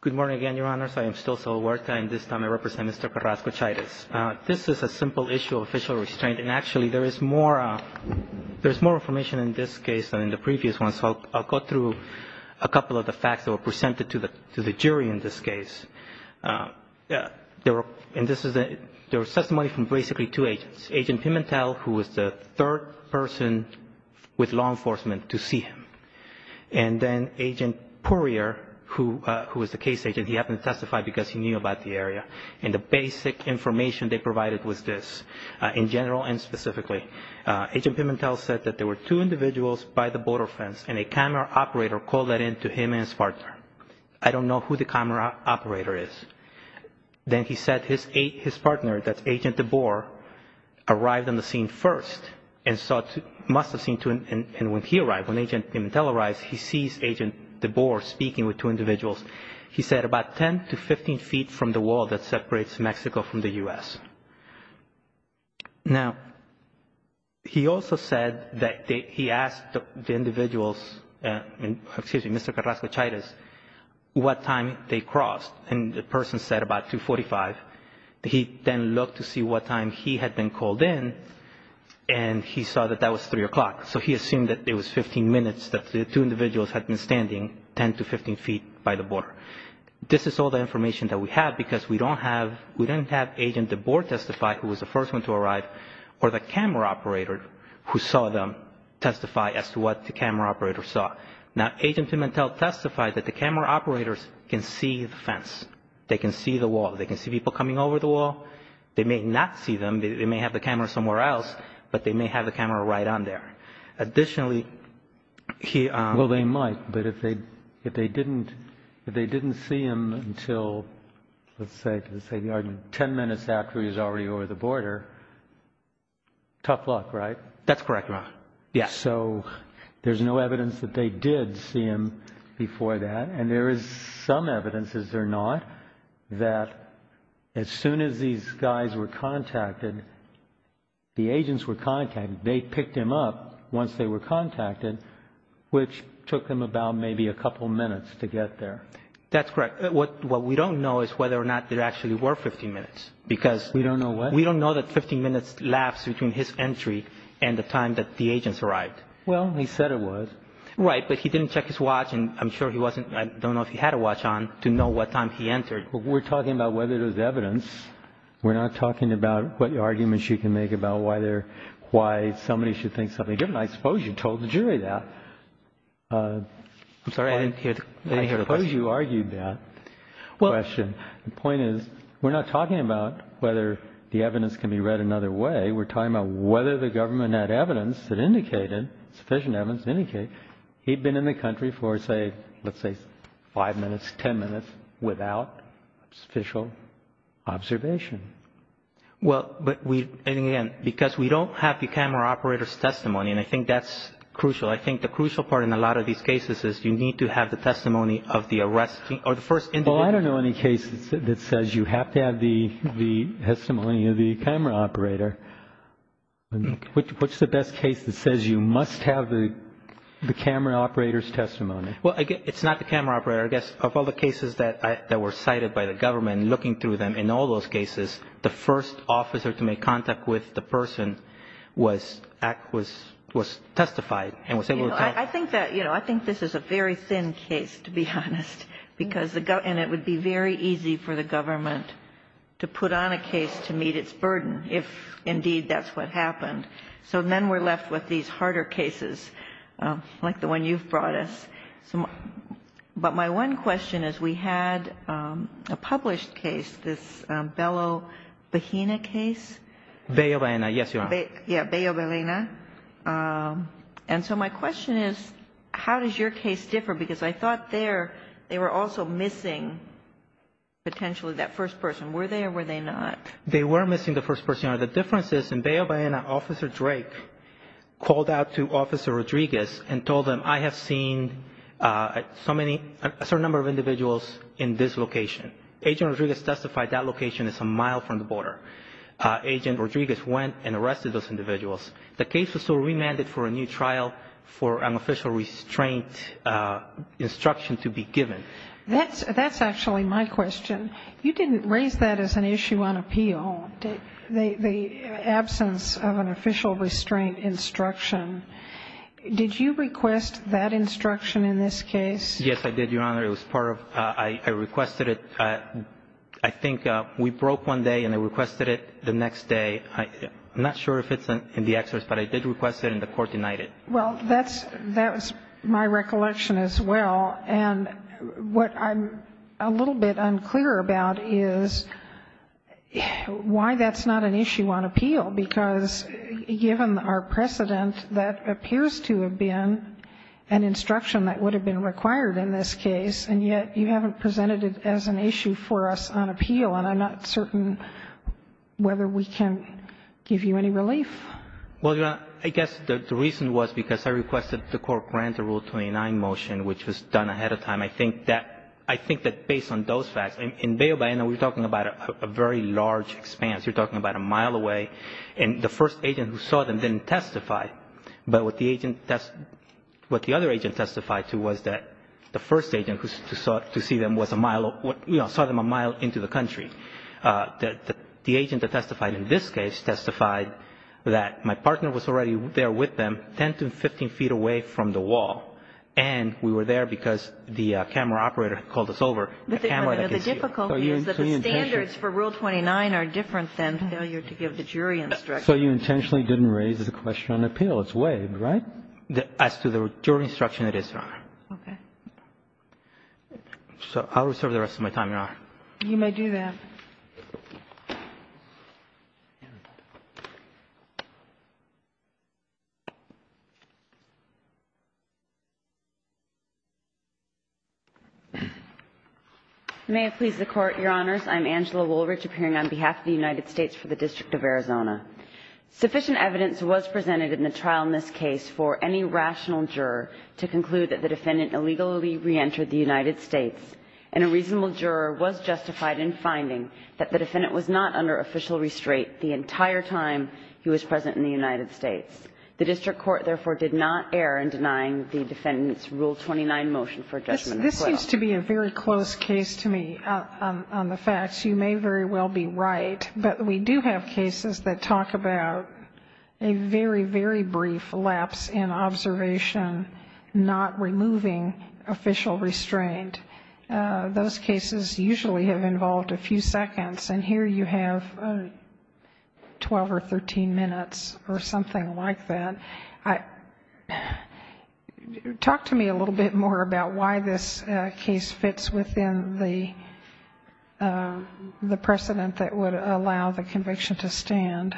Good morning again, Your Honors. I am still Saul Huerta, and this time I represent Mr. Carrasco-Chairez. This is a simple issue of official restraint, and actually there is more information in this case than in the previous one, so I'll go through a couple of the facts that were presented to the jury in this case. There was testimony from basically two agents, Agent Pimentel, who was the third person with law enforcement to see him, and then Agent Poirier, who was the case agent, he happened to testify because he knew about the area, and the basic information they provided was this, in general and specifically. Agent Pimentel said that there were two individuals by the border fence, and a camera operator called that in to him and his partner. I don't know who the camera operator is. Then he said his partner, that's Agent DeBoer, arrived on the scene first, and when he arrived, when Agent Pimentel arrived, he sees Agent DeBoer speaking with two individuals. He said about 10 to 15 feet from the wall that separates Mexico from the U.S. Now, he also said that he asked the individuals, excuse me, Mr. Carrasco-Chairez, what time they crossed, and the person said about 2.45. He then looked to see what time he had been called in, and he saw that that was 3 o'clock, so he assumed that it was 15 minutes that the two individuals had been standing 10 to 15 feet by the border. This is all the information that we have because we don't have Agent DeBoer testify, who was the first one to arrive, or the camera operator who saw them testify as to what the camera operator saw. Now, Agent Pimentel testified that the camera operators can see the fence. They can see the wall. They can see people coming over the wall. They may not see them. They may have the camera somewhere else, but they may have the camera right on there. Additionally, he… Well, they might, but if they didn't see him until, let's say, 10 minutes after he was already over the border, tough luck, right? That's correct, Your Honor. Yes. So there's no evidence that they did see him before that, and there is some evidence, is there not, that as soon as these guys were contacted, the agents were contacted, they picked him up once they were contacted, which took them about maybe a couple minutes to get there. That's correct. What we don't know is whether or not there actually were 15 minutes because… We don't know what? We don't know what 15 minutes lapsed between his entry and the time that the agents arrived. Well, he said it was. Right, but he didn't check his watch, and I'm sure he wasn't… I don't know if he had a watch on to know what time he entered. We're talking about whether there's evidence. We're not talking about what arguments you can make about why somebody should think something different. I suppose you told the jury that. I'm sorry. I didn't hear the question. I suppose you argued that question. The point is we're not talking about whether the evidence can be read another way. We're talking about whether the government had evidence that indicated, sufficient evidence to indicate, he'd been in the country for, say, let's say five minutes, ten minutes, without official observation. Well, but we, and again, because we don't have the camera operator's testimony, and I think that's crucial. I think the crucial part in a lot of these cases is you need to have the testimony of the arrest… Well, I don't know any case that says you have to have the testimony of the camera operator. What's the best case that says you must have the camera operator's testimony? Well, it's not the camera operator. I guess of all the cases that were cited by the government, looking through them, in all those cases, the first officer to make contact with the person was testified and was able to tell… I think this is a very thin case, to be honest, and it would be very easy for the government to put on a case to meet its burden if, indeed, that's what happened. So then we're left with these harder cases like the one you've brought us. But my one question is we had a published case, this Bello-Bahena case. Bello-Bahena, yes, Your Honor. Yeah, Bello-Bahena. And so my question is how does your case differ? Because I thought there they were also missing potentially that first person. Were they or were they not? They were missing the first person, Your Honor. The difference is in Bello-Bahena, Officer Drake called out to Officer Rodriguez and told them, I have seen a certain number of individuals in this location. Agent Rodriguez testified that location is a mile from the border. Agent Rodriguez went and arrested those individuals. The case was so remanded for a new trial for an official restraint instruction to be given. That's actually my question. You didn't raise that as an issue on appeal, the absence of an official restraint instruction. Did you request that instruction in this case? Yes, I did, Your Honor. It was part of my request. I think we broke one day and I requested it the next day. I'm not sure if it's in the excess, but I did request it and the court denied it. Well, that's my recollection as well. And what I'm a little bit unclear about is why that's not an issue on appeal, because given our precedent, that appears to have been an instruction that would have been required in this case, and yet you haven't presented it as an issue for us on appeal. And I'm not certain whether we can give you any relief. Well, Your Honor, I guess the reason was because I requested the court grant the Rule 29 motion, which was done ahead of time. I think that based on those facts, in Bay of Baena, we're talking about a very large expanse. You're talking about a mile away. And the first agent who saw them didn't testify, but what the other agent testified to was that the first agent who saw them a mile into the country. The agent that testified in this case testified that my partner was already there with them, 10 to 15 feet away from the wall, and we were there because the camera operator called us over. The difficulty is that the standards for Rule 29 are different than failure to give the jury instructions. So you intentionally didn't raise the question on appeal. It's waived, right? As to the jury instruction, it is, Your Honor. Okay. So I'll reserve the rest of my time, Your Honor. You may do that. May it please the Court, Your Honors. I'm Angela Woolrich, appearing on behalf of the United States for the District of Arizona. Sufficient evidence was presented in the trial in this case for any rational juror to conclude that the defendant illegally reentered the United States, and a reasonable juror was justified in finding that the defendant was not under official restraint the entire time he was present in the United States. The district court, therefore, did not err in denying the defendant's Rule 29 motion for judgment as well. It seems to be a very close case to me on the facts. You may very well be right. But we do have cases that talk about a very, very brief lapse in observation, not removing official restraint. Those cases usually have involved a few seconds, and here you have 12 or 13 minutes or something like that. Talk to me a little bit more about why this case fits within the precedent that would allow the conviction to stand.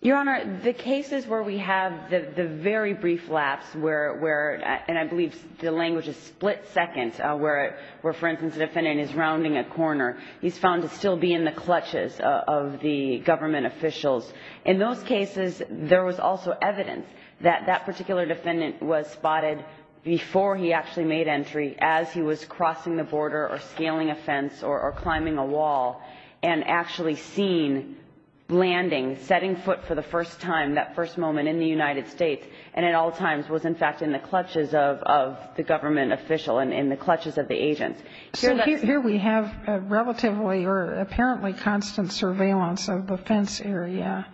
Your Honor, the cases where we have the very brief lapse where, and I believe the language is split seconds, where, for instance, the defendant is rounding a corner, he's found to still be in the clutches of the government officials. In those cases, there was also evidence that that particular defendant was spotted before he actually made entry, as he was crossing the border or scaling a fence or climbing a wall, and actually seen landing, setting foot for the first time, that first moment in the United States, and at all times was in fact in the clutches of the government official and in the clutches of the agents. So here we have relatively or apparently constant surveillance of the fence area,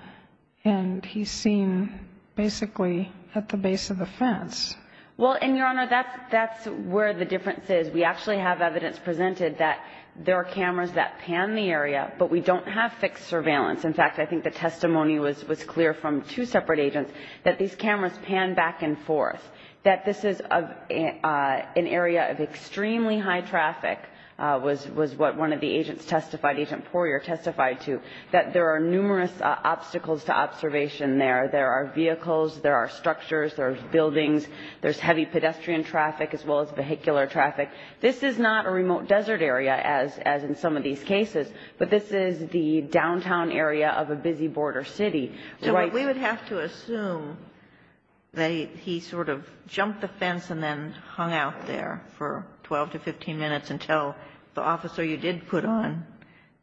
and he's seen basically at the base of the fence. Well, and, Your Honor, that's where the difference is. We actually have evidence presented that there are cameras that pan the area, but we don't have fixed surveillance. In fact, I think the testimony was clear from two separate agents that these cameras pan back and forth, that this is an area of extremely high traffic, was what one of the agents testified, Agent Poirier testified to, that there are numerous obstacles to observation there. There are vehicles. There are structures. There are buildings. There's heavy pedestrian traffic, as well as vehicular traffic. This is not a remote desert area, as in some of these cases, but this is the downtown area of a busy border city. So we would have to assume that he sort of jumped the fence and then hung out there for 12 to 15 minutes until the officer you did put on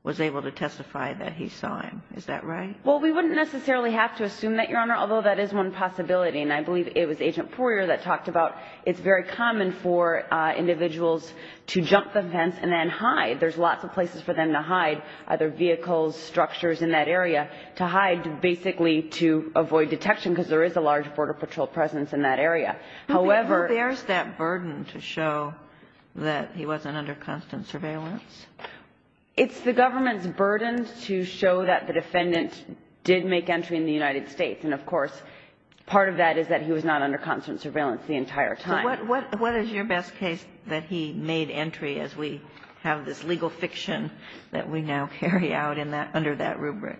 was able to testify that he saw him. Is that right? Well, we wouldn't necessarily have to assume that, Your Honor, although that is one possibility, and I believe it was Agent Poirier that talked about it's very common for individuals to jump the fence and then hide. There's lots of places for them to hide, either vehicles, structures in that area, to hide basically to avoid detection, because there is a large Border Patrol presence in that area. However... But who bears that burden to show that he wasn't under constant surveillance? It's the government's burden to show that the defendant did make entry in the United States. And, of course, part of that is that he was not under constant surveillance the entire time. So what is your best case that he made entry as we have this legal fiction that we now carry out under that rubric?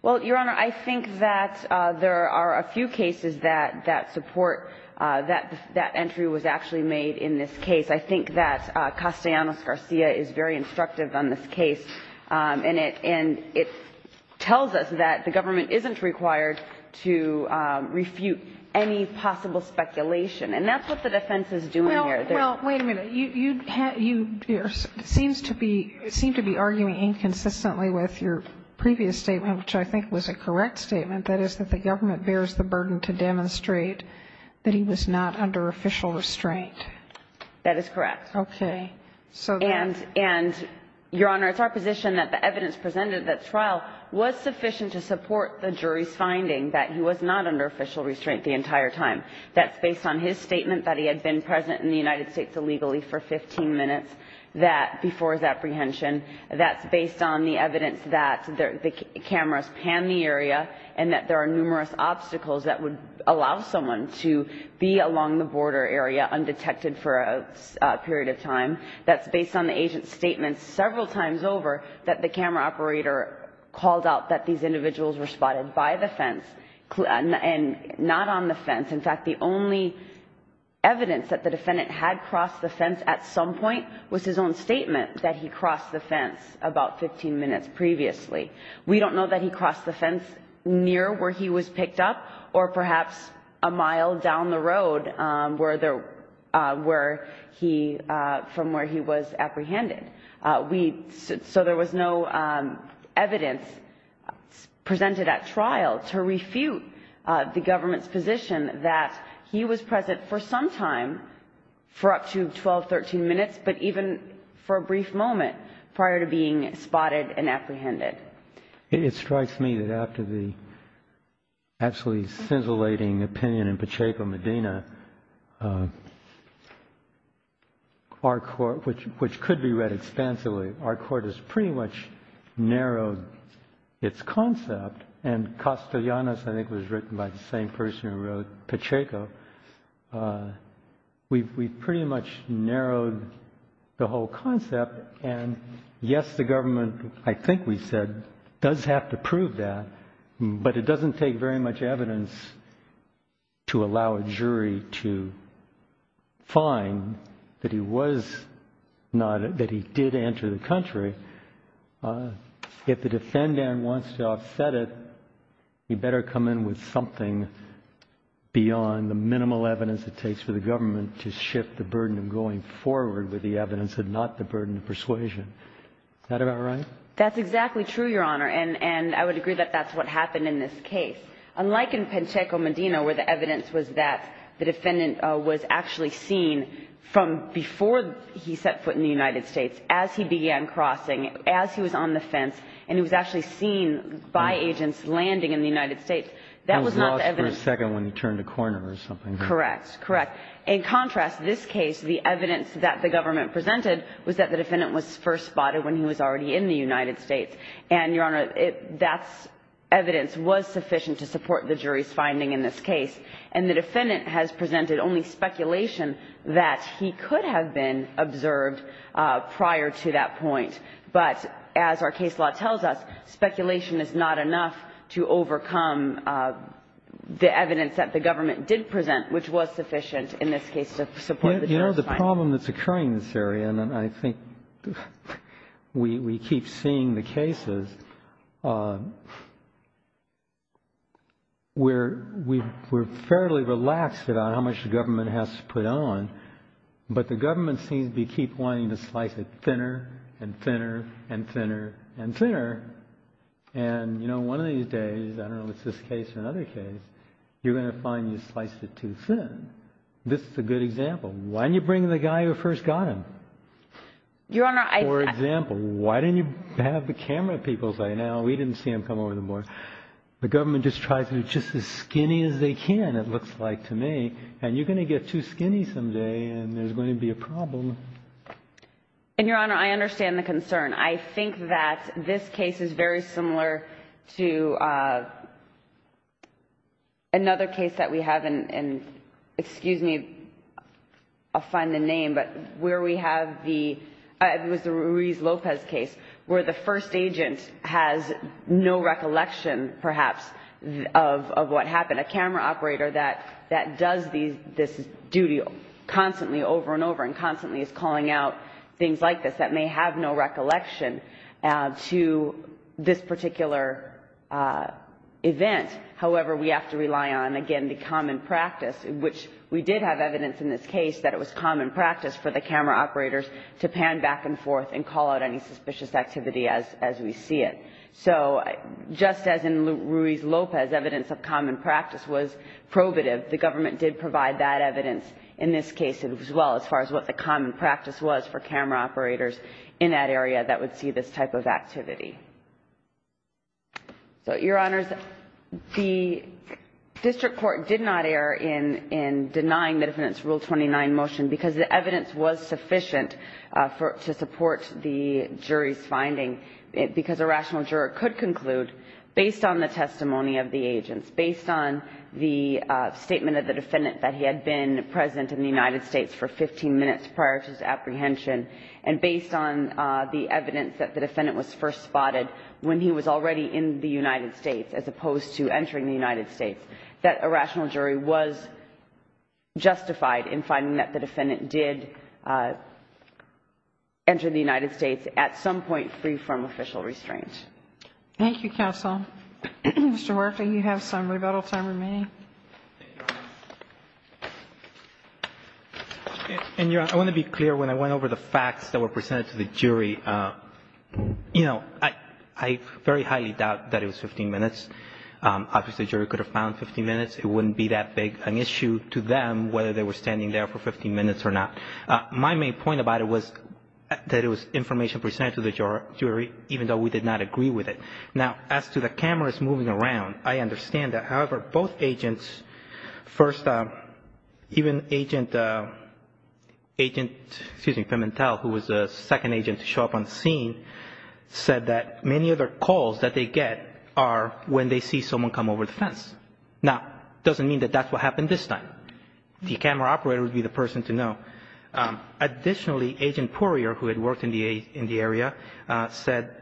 Well, Your Honor, I think that there are a few cases that support that that entry was actually made in this case. I think that Castellanos-Garcia is very instructive on this case, and it tells us that the government isn't required to refute any possible speculation. And that's what the defense is doing here. Well, wait a minute. You seem to be arguing inconsistently with your previous statement, which I think was a correct statement. That is that the government bears the burden to demonstrate that he was not under official restraint. That is correct. Okay. And, Your Honor, it's our position that the evidence presented at that trial was sufficient to support the jury's finding that he was not under official restraint the entire time. That's based on his statement that he had been present in the United States illegally for 15 minutes before his apprehension. That's based on the evidence that the cameras panned the area and that there are numerous obstacles that would allow someone to be along the border area undetected for a period of time. That's based on the agent's statement several times over that the camera operator called out that these individuals were spotted by the fence and not on the fence. In fact, the only evidence that the defendant had crossed the fence at some point was his own statement that he crossed the fence about 15 minutes previously. We don't know that he crossed the fence near where he was picked up or perhaps a mile down the road from where he was apprehended. So there was no evidence presented at trial to refute the government's position that he was present for some time, for up to 12, 13 minutes, but even for a brief moment prior to being spotted and apprehended. It strikes me that after the absolutely scintillating opinion in Pacheco-Medina, our court, which could be read expansively, our court has pretty much narrowed its concept, and Castellanos, I think, was written by the same person who wrote Pacheco. We've pretty much narrowed the whole concept, and yes, the government, I think we said, does have to prove that, but it doesn't take very much evidence to allow a jury to find that he was not, that he did enter the country. If the defendant wants to offset it, he better come in with something beyond the minimal evidence it takes for the government to shift the burden of going forward with the evidence and not the burden of persuasion. Is that about right? That's exactly true, Your Honor, and I would agree that that's what happened in this case. Unlike in Pacheco-Medina, where the evidence was that the defendant was actually seen from before he set foot in the United States, as he began crossing, as he was on the fence, and he was actually seen by agents landing in the United States, that was not the evidence. He was lost for a second when he turned a corner or something. Correct, correct. In contrast, this case, the evidence that the government presented was that the defendant was first spotted when he was already in the United States, and, Your Honor, that evidence was sufficient to support the jury's finding in this case. And the defendant has presented only speculation that he could have been observed prior to that point, but as our case law tells us, speculation is not enough to overcome the evidence that the government did present, which was sufficient in this case to support the jury's finding. The problem that's occurring in this area, and I think we keep seeing the cases, we're fairly relaxed about how much the government has to put on, but the government seems to keep wanting to slice it thinner and thinner and thinner and thinner. And, you know, one of these days, I don't know if it's this case or another case, you're going to find you sliced it too thin. This is a good example. Why didn't you bring the guy who first got him? Your Honor, I... For example, why didn't you have the camera people say, no, we didn't see him come over the board. The government just tries to be just as skinny as they can, it looks like to me, and you're going to get too skinny someday, and there's going to be a problem. And, Your Honor, I understand the concern. I think that this case is very similar to another case that we have in, excuse me, I'll find the name, but where we have the, it was the Ruiz-Lopez case, where the first agent has no recollection, perhaps, of what happened. A camera operator that does this duty constantly over and over and constantly is calling out evidence that may have no recollection to this particular event. However, we have to rely on, again, the common practice, which we did have evidence in this case that it was common practice for the camera operators to pan back and forth and call out any suspicious activity as we see it. So, just as in Ruiz-Lopez, evidence of common practice was probative, the government did provide that evidence in this case as well, as far as what the common practice was for the camera operators in that area that would see this type of activity. So, Your Honors, the district court did not err in denying the defendant's Rule 29 motion because the evidence was sufficient to support the jury's finding, because a rational juror could conclude, based on the testimony of the agents, based on the statement of the defendant that he had been present in the United States for 15 minutes prior to his apprehension, and based on the evidence that the defendant was first spotted when he was already in the United States as opposed to entering the United States, that a rational jury was justified in finding that the defendant did enter the United States at some point free from official restraint. Thank you, counsel. Mr. Murphy, you have some rebuttal time remaining. And, Your Honor, I want to be clear when I went over the facts that were presented to the jury. You know, I very highly doubt that it was 15 minutes. Obviously, the jury could have found 15 minutes. It wouldn't be that big an issue to them whether they were standing there for 15 minutes or not. My main point about it was that it was information presented to the jury, even though we did not agree with it. Now, as to the cameras moving around, I understand that. However, both agents, first, even agent, excuse me, Pimentel, who was the second agent to show up on scene, said that many of the calls that they get are when they see someone come over the fence. Now, it doesn't mean that that's what happened this time. The camera operator would be the person to know. Additionally, agent Poirier, who had worked in the area, said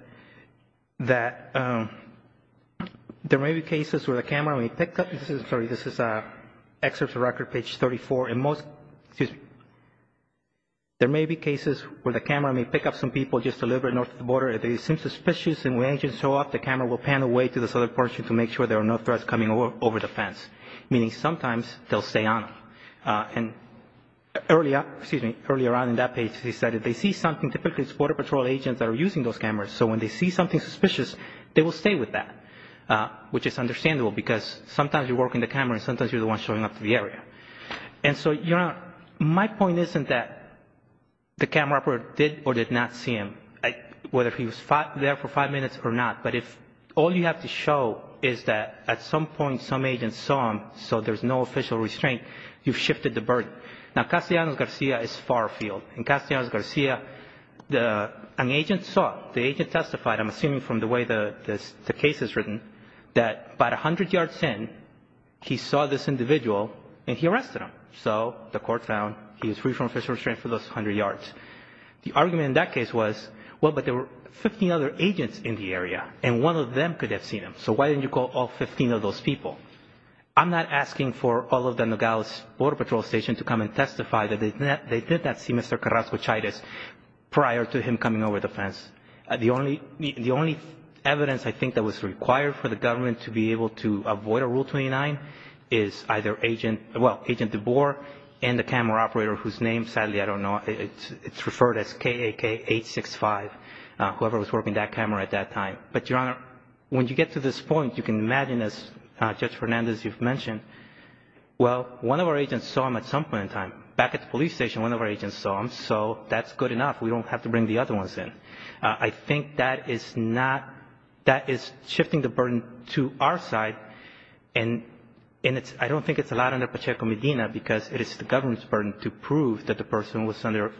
that there may be cases where the camera may pick up, sorry, this is excerpts of record, page 34, and most, excuse me, there may be cases where the camera may pick up some people just a little bit north of the border. If they seem suspicious and when agents show up, the camera will pan away to the southern portion to make sure there are no threats coming over the fence, meaning sometimes they'll stay on. And earlier, excuse me, earlier on in that page, he said if they see something, typically it's Border Patrol agents that are using those cameras. So when they see something suspicious, they will stay with that, which is understandable because sometimes you're working the camera and sometimes you're the one showing up to the area. And so, Your Honor, my point isn't that the camera operator did or did not see him, whether he was there for five minutes or not, but if all you have to show is that at some point some agent saw him, so there's no official restraint, you've shifted the burden. Now, Castellanos-Garcia is far afield. In Castellanos-Garcia, an agent saw, the agent testified, I'm assuming from the way the case is written, that about 100 yards in, he saw this individual and he arrested him. So the court found he was free from official restraint for those 100 yards. The argument in that case was, well, but there were 15 other agents in the area and one of them could have seen him, so why didn't you call all 15 of those people? I'm not asking for all of the Nogales Border Patrol stations to come and testify that they did not see Mr. Carrasco-Chavez prior to him coming over the fence. The only evidence I think that was required for the government to be able to avoid a Rule 29 is either Agent, well, Agent DeBoer and the camera operator whose name, sadly, I don't know, it's referred as KAK-865, whoever was working that camera at that time. But, Your Honor, when you get to this point, you can imagine, as Judge Fernandez, you've mentioned, well, one of our agents saw him at some point in time, back at the police station, one of our agents saw him, so that's good enough. We don't have to bring the other ones in. I think that is not, that is shifting the burden to our side, and it's, I don't think it's allowed under Pacheco-Medina because it is the government's burden to prove that the person was under,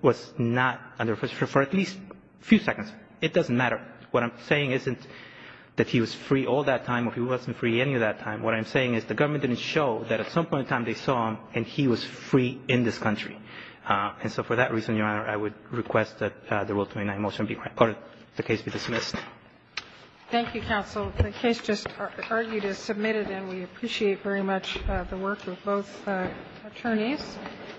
was not under, for at least a few seconds. It doesn't matter. What I'm saying isn't that he was free all that time or he wasn't free any of that time. What I'm saying is the government didn't show that at some point in time they saw him and that he was free in this country. And so for that reason, Your Honor, I would request that the Rule 29 motion be recorded. The case be dismissed. Thank you, counsel. The case just argued is submitted, and we appreciate very much the work of both attorneys.